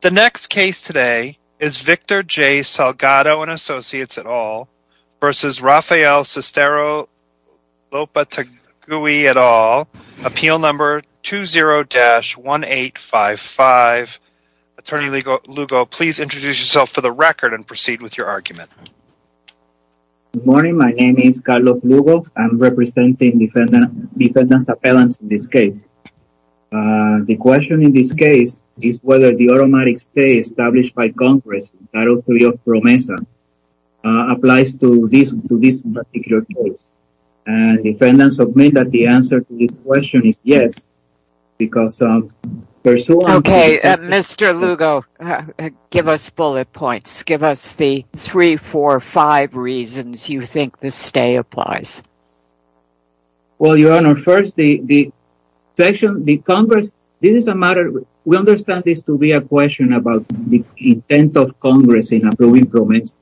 The next case today is Victor J. Salgado & Associates v. Rafael Cestero-Lopategui, appeal number 20-1855. Attorney Lugo, please introduce yourself for the record and proceed with your argument. Good morning, my name is Carlos Lugo. I'm representing defendant's appellants in this case. The question in this case is whether the automatic stay established by Congress in Title III of PROMESA applies to this particular case. And defendants admit that the answer to this question is yes, because... Okay, Mr. Lugo, give us bullet points. Give us the 3, 4, 5 reasons you think the stay applies. Well, Your Honor, first, the Congress... This is a matter... We understand this to be a question about the intent of Congress in approving PROMESA.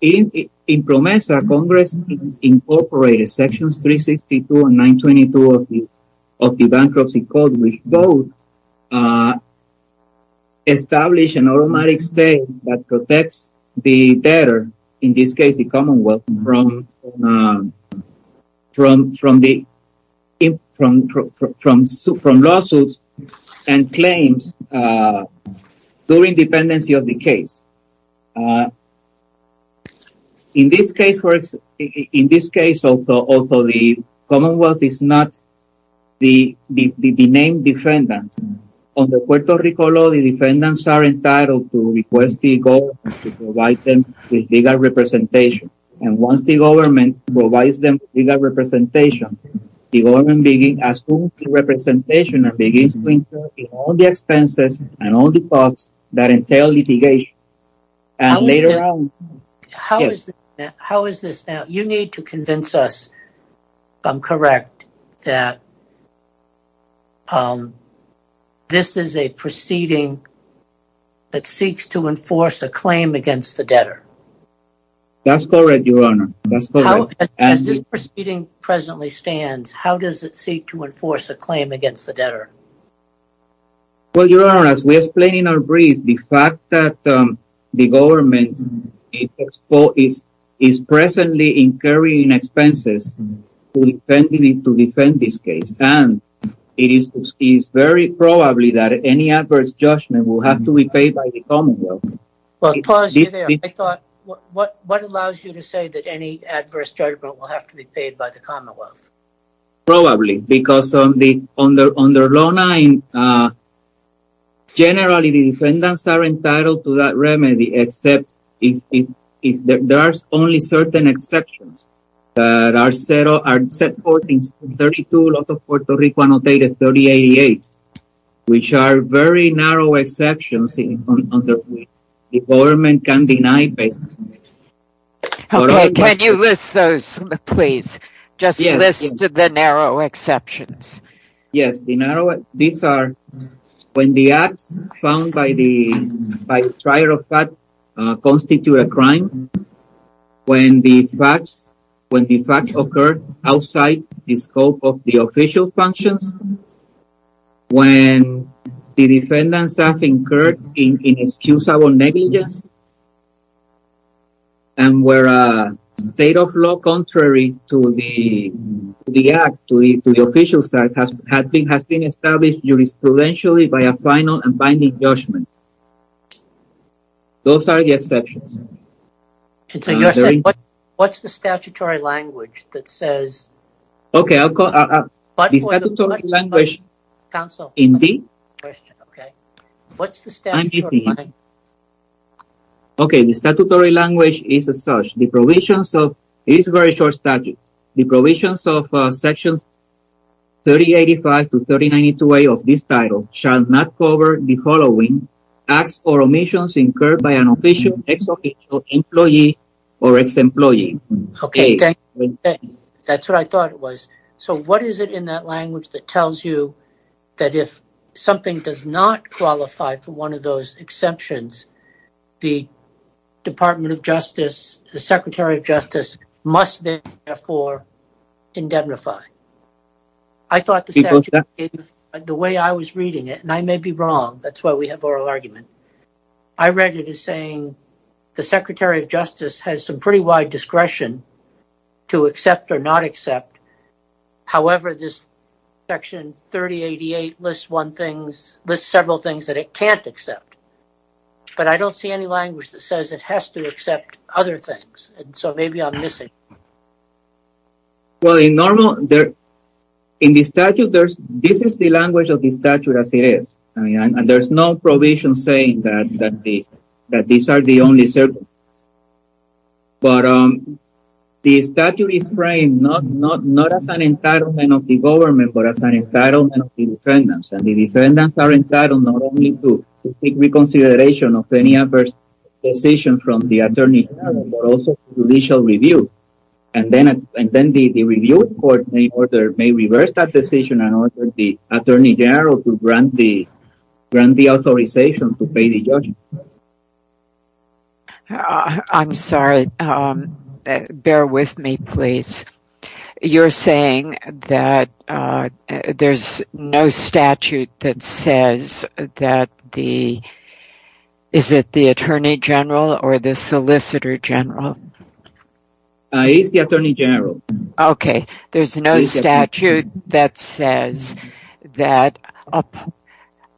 In PROMESA, Congress incorporated sections 362 and 922 of the Bankruptcy Code, which both establish an automatic stay that protects the debtor, in this case the Commonwealth, from lawsuits and claims during dependency of the case. In this case, the Commonwealth is not the named defendant. On the Puerto Rico law, the defendants are entitled to request the government to provide them with legal representation. And once the government provides them with legal representation, the government assumes the representation and begins to incur all the expenses and all the costs that entail litigation. How is this... You need to convince us, if I'm correct, that this is a proceeding that seeks to enforce a claim against the debtor. That's correct, Your Honor. As this proceeding presently stands, how does it seek to enforce a claim against the debtor? Well, Your Honor, as we explained in our brief, the fact that the government is presently incurring expenses to defend this case, and it is very probably that any adverse judgment will have to be paid by the Commonwealth. Well, to pause you there, I thought, what allows you to say that any adverse judgment will have to be paid by the Commonwealth? Probably, because under Law 9, generally the defendants are entitled to that remedy, except if there are only certain exceptions that are set forth in 32 laws of Puerto Rico, annotated 3088, which are very narrow exceptions that the government can deny. Can you list those, please? Just list the narrow exceptions. Yes, the narrow... These are... When the acts found by the trial of fact constitute a crime, when the facts occur outside the scope of the official functions, when the defendants have incurred inexcusable negligence, and where a state of law contrary to the act, to the official side, has been established jurisprudentially by a final and binding judgment. Those are the exceptions. So you're saying, what's the statutory language that says... Okay, I'll call... But for the... The statutory language... Counsel... Indeed. Okay. What's the statutory language? Okay, the statutory language is as such. The provisions of... It's a very short statute. The provisions of Sections 3085 to 3092A of this title shall not cover the following. Acts or omissions incurred by an official, ex-employee, or ex-employee. Okay, thank you. That's what I thought it was. So what is it in that language that tells you that if something does not qualify for one of those exemptions, the Department of Justice, the Secretary of Justice, must therefore indemnify? I thought the way I was reading it, and I may be wrong. That's why we have oral argument. I read it as saying, the Secretary of Justice has some pretty wide discretion to accept or not accept. However, this Section 3088 lists several things that it can't accept. But I don't see any language that says it has to accept other things, and so maybe I'm missing. Well, in the statute, this is the language of the statute as it is. And there's no provision saying that these are the only circumstances. But the statute is framed not as an entitlement of the government, but as an entitlement of the defendants. And the defendants are entitled not only to take reconsideration of any adverse decision from the Attorney General, but also judicial review. And then the review court may reverse that decision and order the Attorney General to grant the authorization to pay the judgment. I'm sorry. Bear with me, please. You're saying that there's no statute that says that the, is it the Attorney General or the Solicitor General? It's the Attorney General. Okay. There's no statute that says that,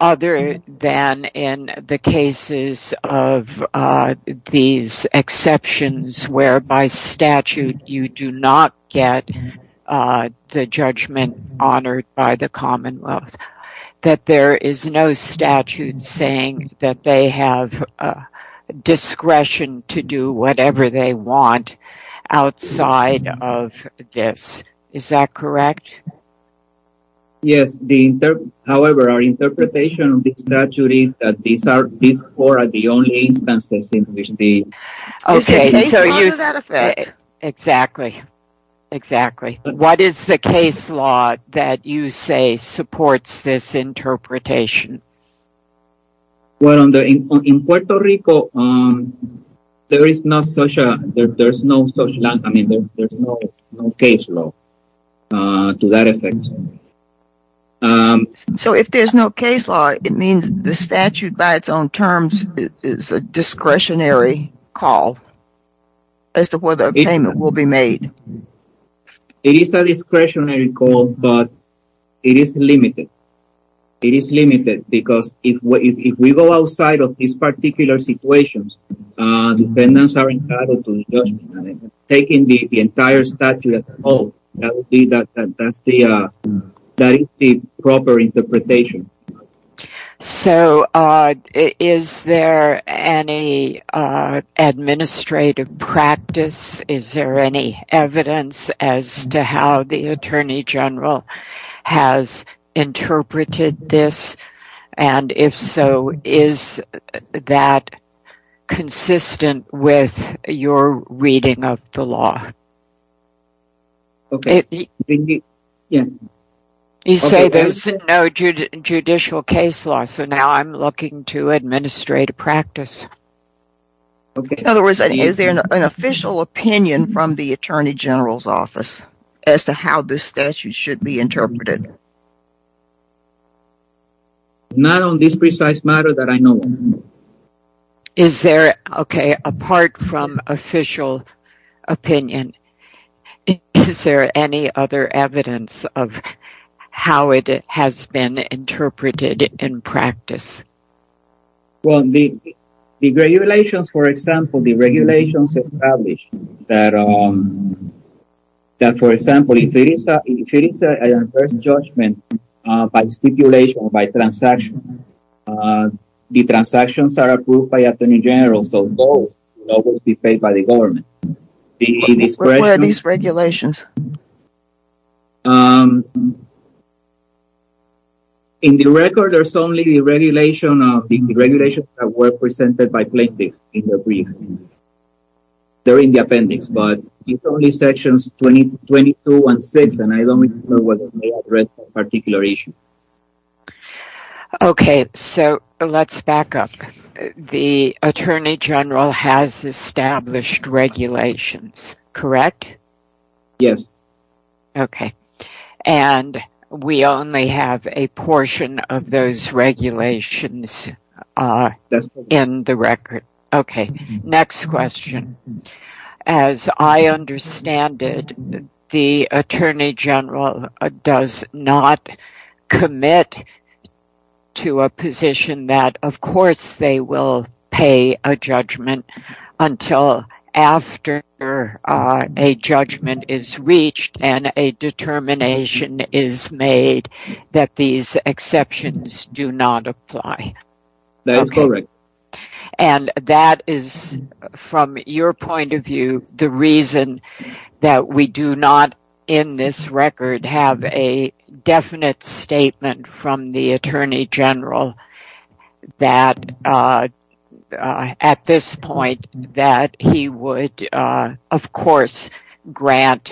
other than in the cases of these exceptions where by statute you do not get the judgment honored by the Commonwealth, that there is no statute saying that they have discretion to do whatever they want outside of this. Is that correct? Yes. However, our interpretation of the statute is that these four are the only instances in which the... Is there a case law to that effect? Exactly. What is the case law that you say supports this interpretation? Well, in Puerto Rico, there is no case law to that effect. So if there's no case law, it means the statute by its own terms is a discretionary call as to whether a payment will be made? It is a discretionary call, but it is limited. It is limited because if we go outside of these particular situations, dependents are entitled to the judgment. Taking the entire statute as a whole, that is the proper interpretation. So, is there any administrative practice? Is there any evidence as to how the Attorney General has interpreted this? And if so, is that consistent with your reading of the law? Okay. You say there's no judicial case law, so now I'm looking to administrative practice. Okay. In other words, is there an official opinion from the Attorney General's office as to how this statute should be interpreted? Not on this precise matter that I know of. Okay, apart from official opinion, is there any other evidence of how it has been interpreted in practice? Well, the regulations, for example, the regulations established that, for example, if there is an adverse judgment by stipulation or by transaction, the transactions are approved by the Attorney General, so both will be paid by the government. Where are these regulations? In the record, there's only the regulations that were presented by plaintiffs in the brief. They're in the appendix, but it's only sections 22 and 6, and I don't know whether they address a particular issue. Okay, so let's back up. The Attorney General has established regulations, correct? Yes. Okay, and we only have a portion of those regulations in the record. Okay, next question. As I understand it, the Attorney General does not commit to a position that, of course, they will pay a judgment until after a judgment is reached and a determination is made that these exceptions do not apply. That is correct. That is, from your point of view, the reason that we do not, in this record, have a definite statement from the Attorney General that, at this point, that he would, of course, grant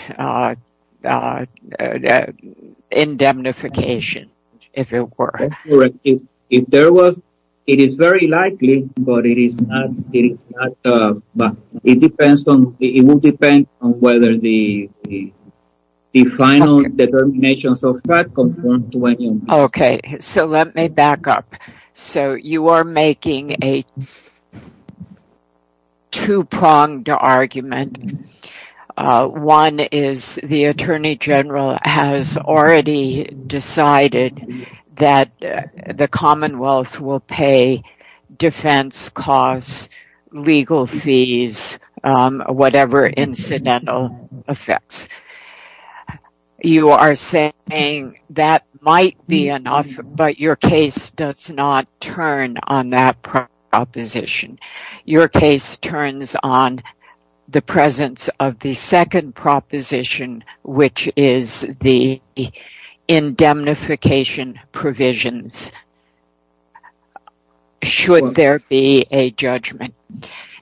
indemnification, if it were. That's correct. If there was, it is very likely, but it is not, it depends on, it will depend on whether the final determinations of that conform to any of these. Okay, so let me back up. So you are making a two-pronged argument. One is the Attorney General has already decided that the Commonwealth will pay defense costs, legal fees, whatever incidental effects. You are saying that might be enough, but your case does not turn on that proposition. Your case turns on the presence of the second proposition, which is the indemnification provisions, should there be a judgment.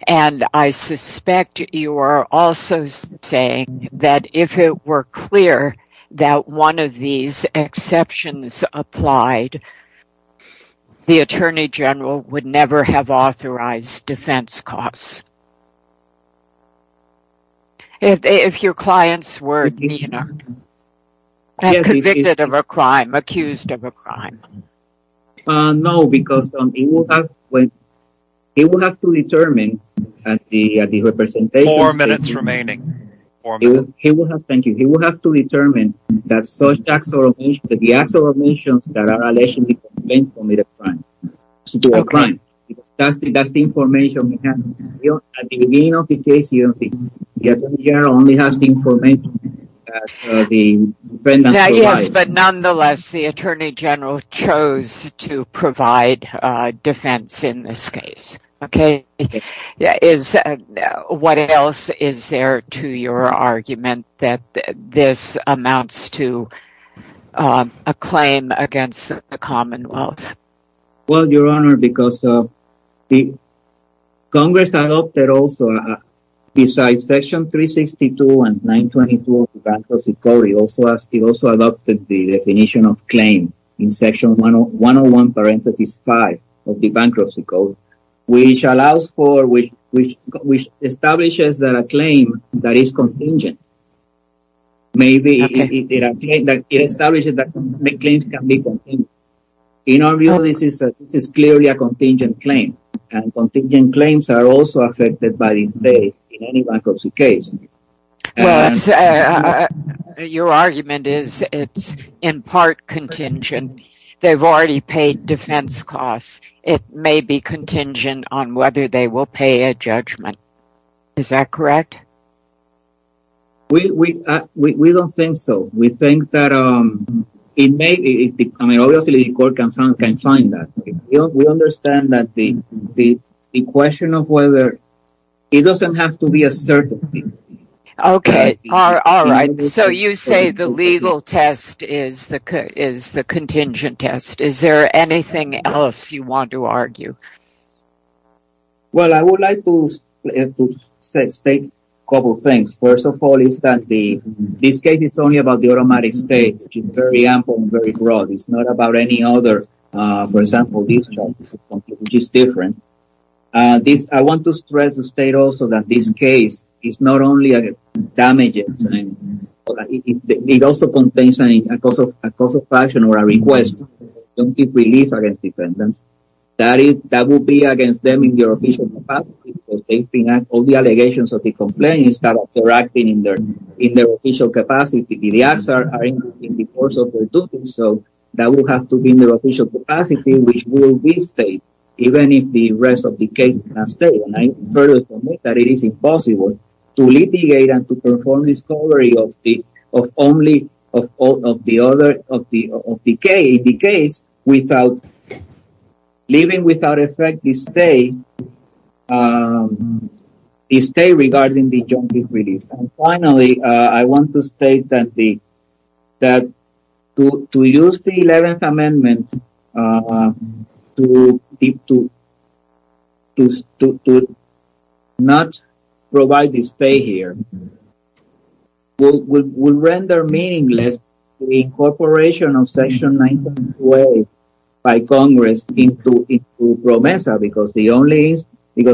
I suspect you are also saying that if it were clear that one of these exceptions applied, the Attorney General would never have authorized defense costs. If your clients were convicted of a crime, accused of a crime. No, because he would have to determine at the representation. Four minutes remaining. He would have to determine that the acts of omissions that are allegedly committed a crime. Okay. That's the information we have. At the beginning of the case, the Attorney General only has the information that the defendant survived. Yes, but nonetheless, the Attorney General chose to provide defense in this case. What else is there to your argument that this amounts to a claim against the Commonwealth? Well, Your Honor, because the Congress adopted also, besides Section 362 and 922 of the Bankruptcy Code, it also adopted the definition of claim in Section 101, Parenthesis 5 of the Bankruptcy Code, which allows for, which establishes that a claim that is contingent. Maybe it establishes that claims can be contingent. In our view, this is clearly a contingent claim, and contingent claims are also affected by this day in any bankruptcy case. Well, your argument is it's in part contingent. They've already paid defense costs. It may be contingent on whether they will pay a judgment. Is that correct? We don't think so. We think that it may be. I mean, obviously the court can find that. We understand that the question of whether, it doesn't have to be a certain thing. Okay. All right. So you say the legal test is the contingent test. Is there anything else you want to argue? Well, I would like to state a couple of things. First of all is that this case is only about the automatic state, which is very ample and very broad. It's not about any other, for example, these charges, which is different. I want to stress and state also that this case is not only damages. It also contains a cause of action or a request. Don't give relief against defendants. That will be against them in their official capacity. All the allegations of the complaint is that they're acting in their official capacity. The acts are in the course of their duty. So that will have to be in their official capacity, which will be state, even if the rest of the case is not state. And I further state that it is impossible to litigate and to perform discovery of the case without leaving without effect the state regarding the jumping relief. And finally, I want to state that to use the 11th Amendment to not provide the state here will render meaningless the incorporation of Section 922A by Congress into PROMESA. Because the only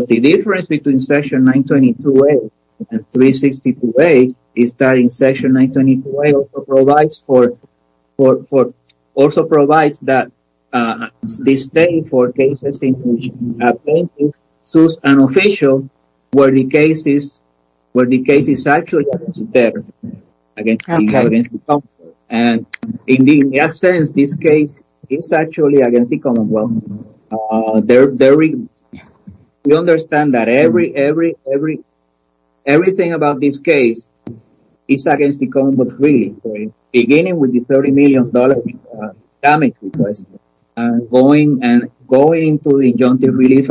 difference between Section 922A and 362A is that Section 922A also provides that the state for cases in which a plaintiff sues an official where the case is actually against them. And in essence, this case is actually against the Commonwealth. We understand that everything about this case is against the Commonwealth, really, beginning with the $30 million damage request and going and going to the injunctive relief.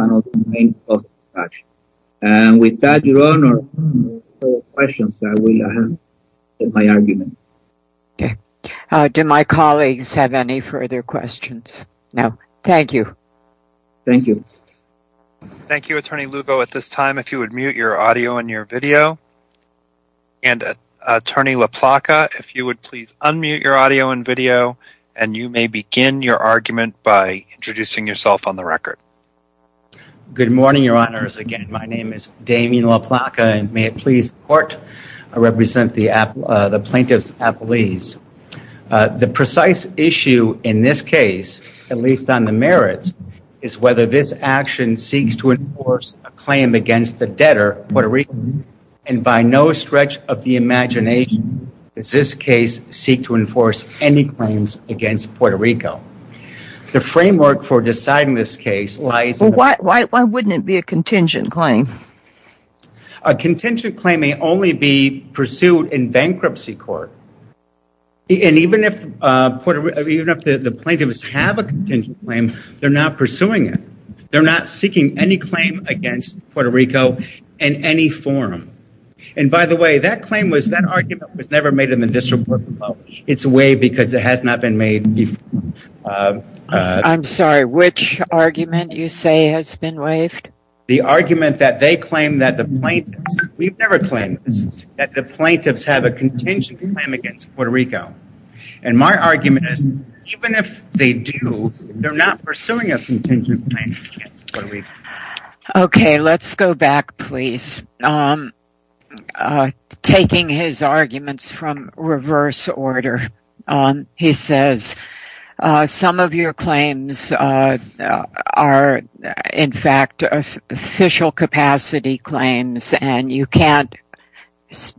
And with that, Your Honor, I will end my argument. Okay. Do my colleagues have any further questions? No. Thank you. Thank you. Thank you, Attorney Lugo, at this time, if you would mute your audio and your video. And Attorney LaPlaca, if you would please unmute your audio and video, and you may begin your argument by introducing yourself on the record. Good morning, Your Honors. Again, my name is Damien LaPlaca, and may it please the Court, I represent the plaintiff's appellees. The precise issue in this case, at least on the merits, is whether this action seeks to enforce a claim against the debtor, Puerto Rico. And by no stretch of the imagination does this case seek to enforce any claims against Puerto Rico. The framework for deciding this case lies... Well, why wouldn't it be a contingent claim? A contingent claim may only be pursued in bankruptcy court. And even if the plaintiffs have a contingent claim, they're not pursuing it. They're not seeking any claim against Puerto Rico in any form. And by the way, that claim was, that argument was never made in the district court before. It's waived because it has not been made before. I'm sorry, which argument you say has been waived? The argument that they claim that the plaintiffs, we've never claimed this, that the plaintiffs have a contingent claim against Puerto Rico. And my argument is, even if they do, they're not pursuing a contingent claim against Puerto Rico. Okay, let's go back please. Taking his arguments from reverse order, he says, Some of your claims are, in fact, official capacity claims. And you can't,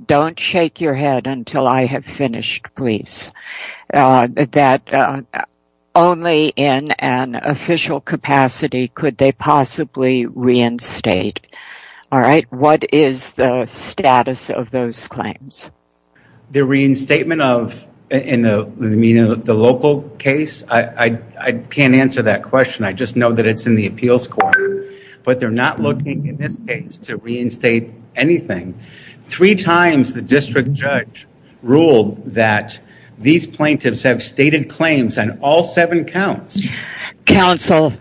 don't shake your head until I have finished, please. That only in an official capacity could they possibly reinstate. All right, what is the status of those claims? The reinstatement of, in the local case, I can't answer that question. I just know that it's in the appeals court. But they're not looking in this case to reinstate anything. Three times the district judge ruled that these plaintiffs have stated claims on all seven counts. Counsel,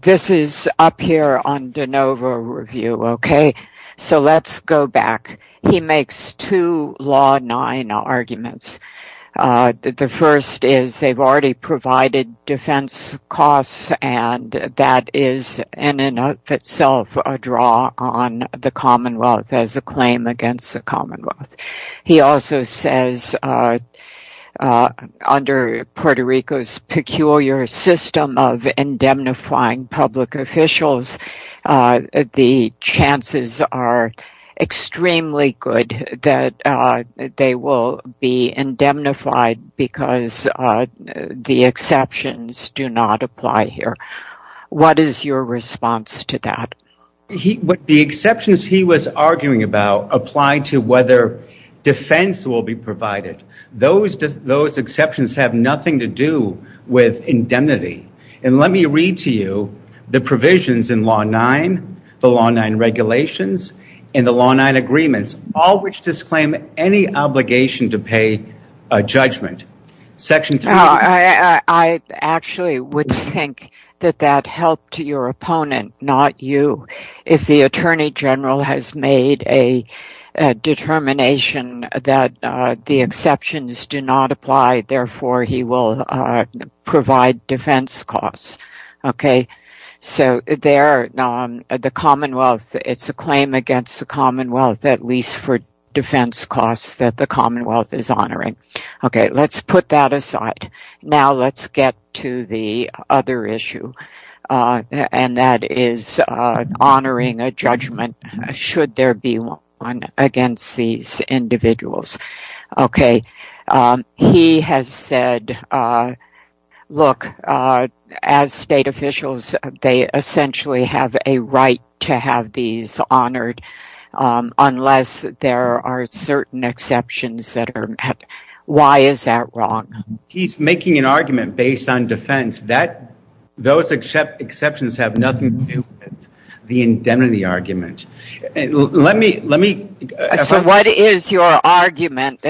this is up here on de novo review. Okay, so let's go back. He makes two law nine arguments. The first is they've already provided defense costs. And that is in and of itself a draw on the Commonwealth as a claim against the Commonwealth. He also says under Puerto Rico's peculiar system of indemnifying public officials, the chances are extremely good that they will be indemnified because the exceptions do not apply here. What is your response to that? The exceptions he was arguing about apply to whether defense will be provided. Those exceptions have nothing to do with indemnity. And let me read to you the provisions in law nine, the law nine regulations, and the law nine agreements, all which disclaim any obligation to pay a judgment. I actually would think that that helped your opponent, not you. If the Attorney General has made a determination that the exceptions do not apply, therefore he will provide defense costs. Okay, so there the Commonwealth, it's a claim against the Commonwealth, at least for defense costs that the Commonwealth is honoring. Okay, let's put that aside. Now let's get to the other issue, and that is honoring a judgment should there be one against these individuals. Okay, he has said, look, as state officials, they essentially have a right to have these honored unless there are certain exceptions that are met. Why is that wrong? He's making an argument based on defense. Those exceptions have nothing to do with the indemnity argument. So what is your argument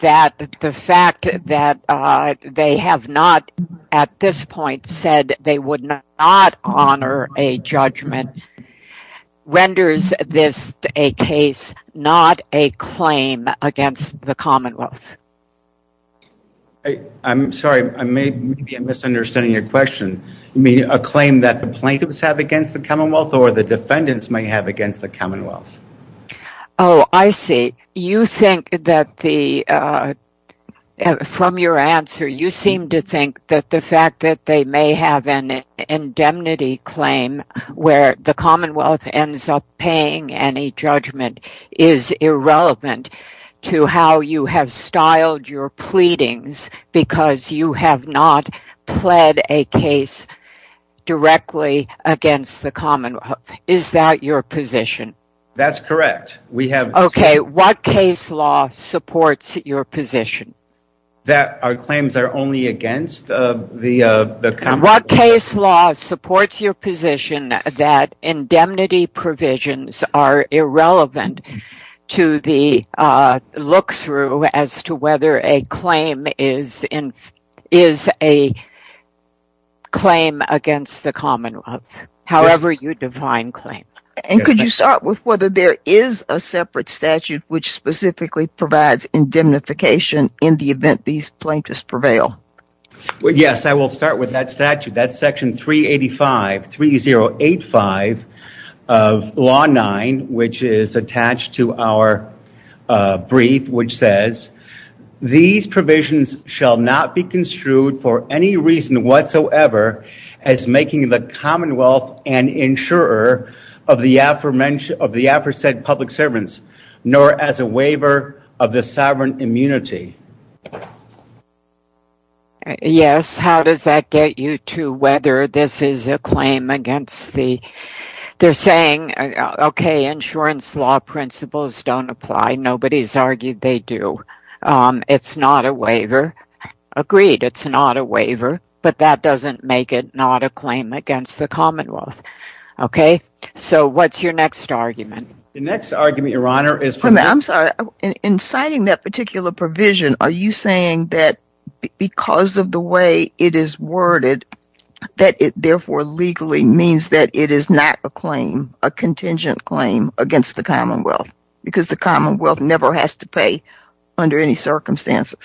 that the fact that they have not at this point said they would not honor a judgment renders this a case, not a claim against the Commonwealth? I'm sorry, I may be misunderstanding your question. You mean a claim that the plaintiffs have against the Commonwealth, or the defendants may have against the Commonwealth? Oh, I see. You think that the, from your answer, you seem to think that the fact that they may have an indemnity claim where the Commonwealth ends up paying any judgment is irrelevant to how you have styled your pleadings because you have not pled a case directly against the Commonwealth. Is that your position? That's correct. Okay, what case law supports your position? That our claims are only against the Commonwealth. What case law supports your position that indemnity provisions are irrelevant to the look-through as to whether a claim is a claim against the Commonwealth, however you define claim. And could you start with whether there is a separate statute which specifically provides indemnification in the event these plaintiffs prevail? Yes, I will start with that statute. That's Section 385, 3085 of Law 9, which is attached to our brief, which says, these provisions shall not be construed for any reason whatsoever as making the Commonwealth an insurer of the aforesaid public servants, nor as a waiver of the sovereign immunity. Yes, how does that get you to whether this is a claim against the, they're saying, okay, insurance law principles don't apply. Nobody's argued they do. It's not a waiver. Agreed, it's not a waiver, but that doesn't make it not a claim against the Commonwealth. Okay. So what's your next argument? The next argument, Your Honor, is for this. I'm sorry. In citing that particular provision, are you saying that because of the way it is worded, that it therefore legally means that it is not a claim, a contingent claim against the Commonwealth because the Commonwealth never has to pay under any circumstances?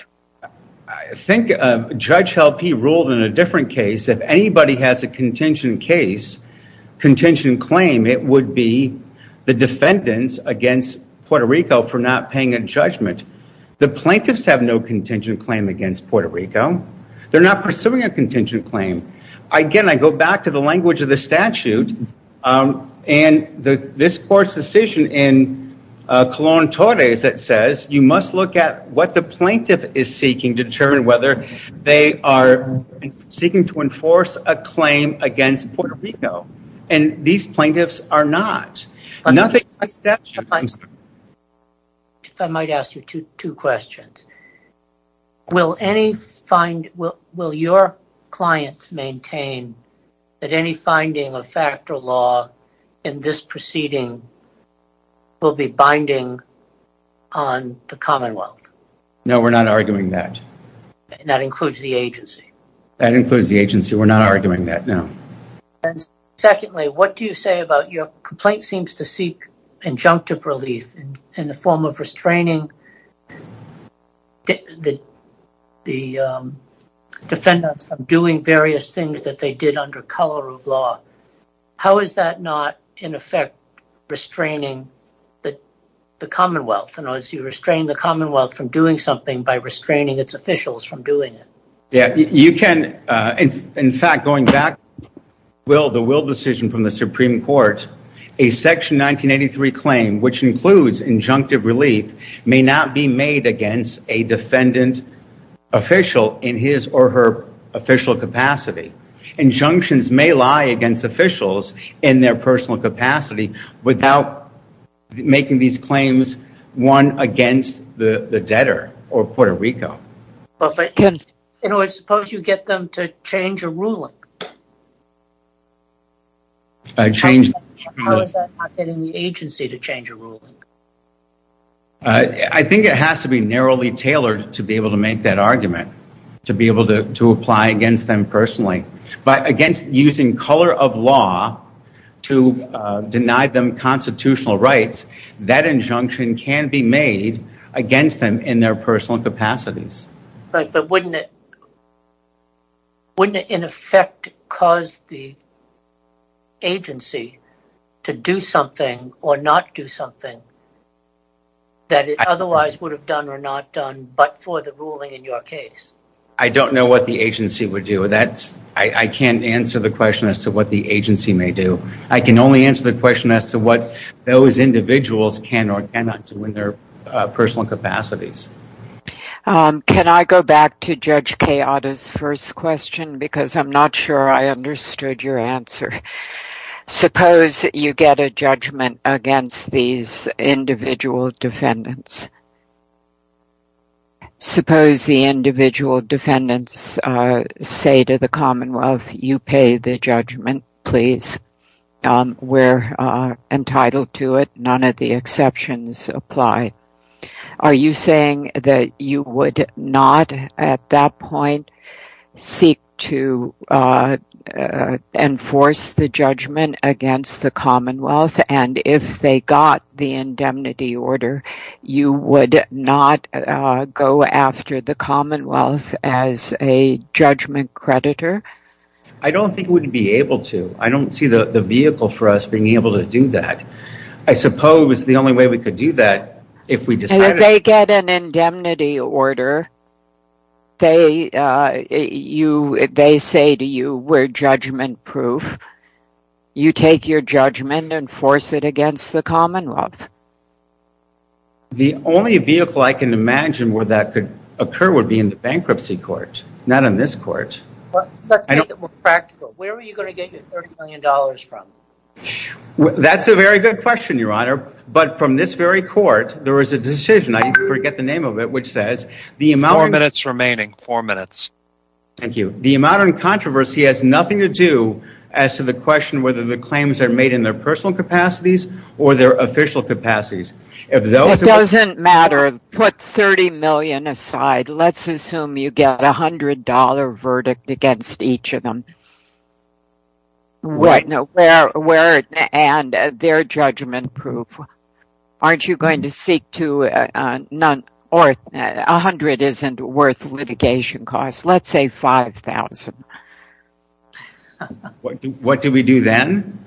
I think Judge Helpe ruled in a different case. If anybody has a contingent case, contingent claim, it would be the defendants against Puerto Rico for not paying a judgment. The plaintiffs have no contingent claim against Puerto Rico. They're not pursuing a contingent claim. Again, I go back to the language of the statute, and this court's decision in Colón-Torres that says, you must look at what the plaintiff is seeking to determine whether they are seeking to enforce a claim against Puerto Rico. And these plaintiffs are not. If I might ask you two questions. Will your clients maintain that any finding of fact or law in this proceeding will be binding on the Commonwealth? No, we're not arguing that. That includes the agency? That includes the agency. We're not arguing that, no. Secondly, what do you say about your complaint seems to seek injunctive relief in the form of restraining the defendants from doing various things that they did under color of law. How is that not, in effect, restraining the Commonwealth? In other words, you restrain the Commonwealth from doing something by restraining its officials from doing it. In fact, going back to the Will decision from the Supreme Court, a Section 1983 claim, which includes injunctive relief, may not be made against a defendant official in his or her official capacity. Injunctions may lie against officials in their personal capacity without making these claims one against the debtor or Puerto Rico. In other words, suppose you get them to change a ruling. How is that not getting the agency to change a ruling? I think it has to be narrowly tailored to be able to make that argument, to be able to apply against them personally. But against using color of law to deny them constitutional rights, that injunction can be made against them in their personal capacities. But wouldn't it, in effect, cause the agency to do something or not do something that it otherwise would have done or not done but for the ruling in your case? I don't know what the agency would do. I can't answer the question as to what the agency may do. I can only answer the question as to what those individuals can or cannot do in their personal capacities. Can I go back to Judge Queada's first question because I'm not sure I understood your answer. Suppose you get a judgment against these individual defendants. Suppose the individual defendants say to the Commonwealth, you pay the judgment, please. We're entitled to it. None of the exceptions apply. Are you saying that you would not at that point seek to enforce the judgment against the Commonwealth? And if they got the indemnity order, you would not go after the Commonwealth as a judgment creditor? I don't think we would be able to. I don't see the vehicle for us being able to do that. I suppose the only way we could do that if we decided... They say to you, we're judgment proof. You take your judgment and force it against the Commonwealth. The only vehicle I can imagine where that could occur would be in the bankruptcy court, not in this court. Let's make it more practical. Where are you going to get your $30 million from? That's a very good question, Your Honor. But from this very court, there is a decision, I forget the name of it, which says... Four minutes remaining. Four minutes. Thank you. The amount of controversy has nothing to do as to the question whether the claims are made in their personal capacities or their official capacities. It doesn't matter. Put $30 million aside. Let's assume you get a $100 verdict against each of them. Where and their judgment proof. Aren't you going to seek to... $100 isn't worth litigation costs. Let's say $5,000. What do we do then?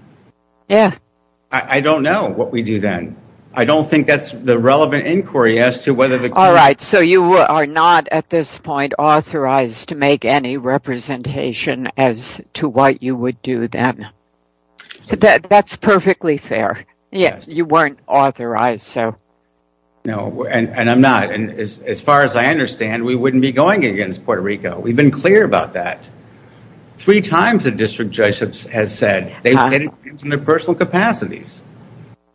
I don't know what we do then. I don't think that's the relevant inquiry as to whether... So you are not at this point authorized to make any representation as to what you would do then. That's perfectly fair. You weren't authorized. No, and I'm not. As far as I understand, we wouldn't be going against Puerto Rico. We've been clear about that. Three times a district judge has said they've said it's in their personal capacities.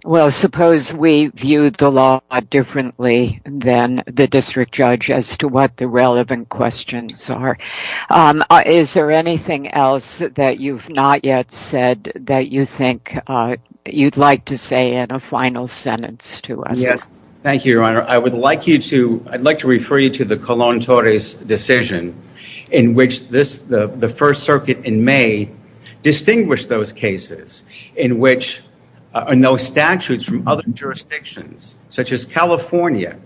Well, suppose we viewed the law differently than the district judge as to what the relevant questions are. Is there anything else that you've not yet said that you think you'd like to say in a final sentence to us? Thank you, Your Honor. I'd like to refer you to the Colón-Torres decision in which the First Circuit in May distinguished those cases in which... In those statutes from other jurisdictions, such as California,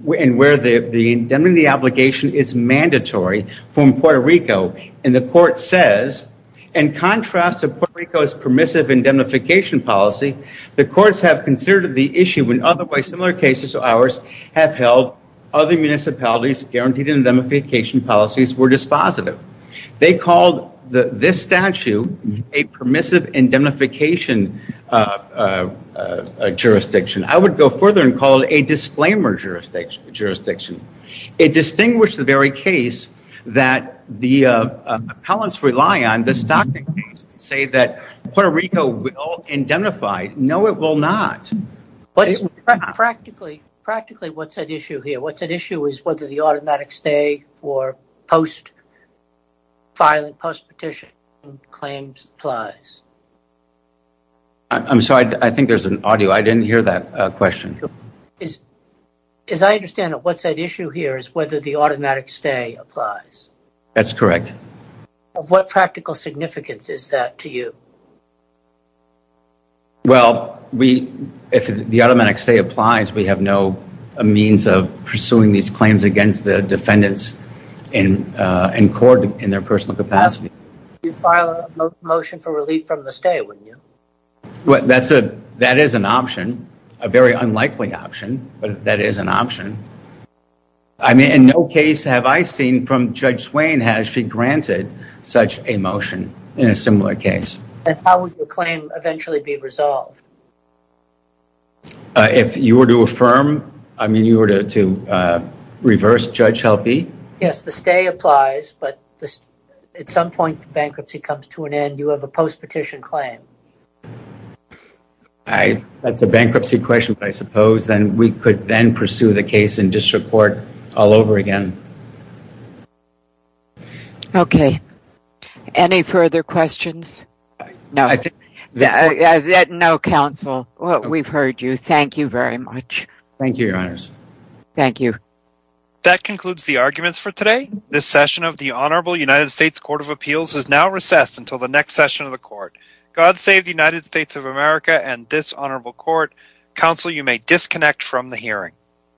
where the indemnity obligation is mandatory from Puerto Rico. And the court says, in contrast to Puerto Rico's permissive indemnification policy, the courts have considered the issue when otherwise similar cases of ours have held other municipalities guaranteed indemnification policies were dispositive. They called this statute a permissive indemnification jurisdiction. I would go further and call it a disclaimer jurisdiction. It distinguished the very case that the appellants rely on, the Stockton case, to say that Puerto Rico will indemnify. No, it will not. Practically, what's at issue here? What's at issue is whether the automatic stay or post-filing, post-petition claims applies. I'm sorry. I think there's an audio. I didn't hear that question. As I understand it, what's at issue here is whether the automatic stay applies. That's correct. What practical significance is that to you? Well, if the automatic stay applies, we have no means of pursuing these claims against the defendants in court in their personal capacity. You'd file a motion for relief from the stay, wouldn't you? That is an option, a very unlikely option, but that is an option. I mean, in no case have I seen from Judge Swain has she granted such a motion in a similar case. How would the claim eventually be resolved? If you were to affirm, I mean, you were to reverse Judge Helpe? Yes, the stay applies, but at some point the bankruptcy comes to an end, you have a post-petition claim. That's a bankruptcy question, but I suppose we could then pursue the case in district court all over again. Okay. Any further questions? No. No, counsel. We've heard you. Thank you very much. Thank you, Your Honors. Thank you. That concludes the arguments for today. This session of the Honorable United States Court of Appeals is now recessed until the next session of the court. God save the United States of America and this honorable court. Counsel, you may disconnect from the hearing.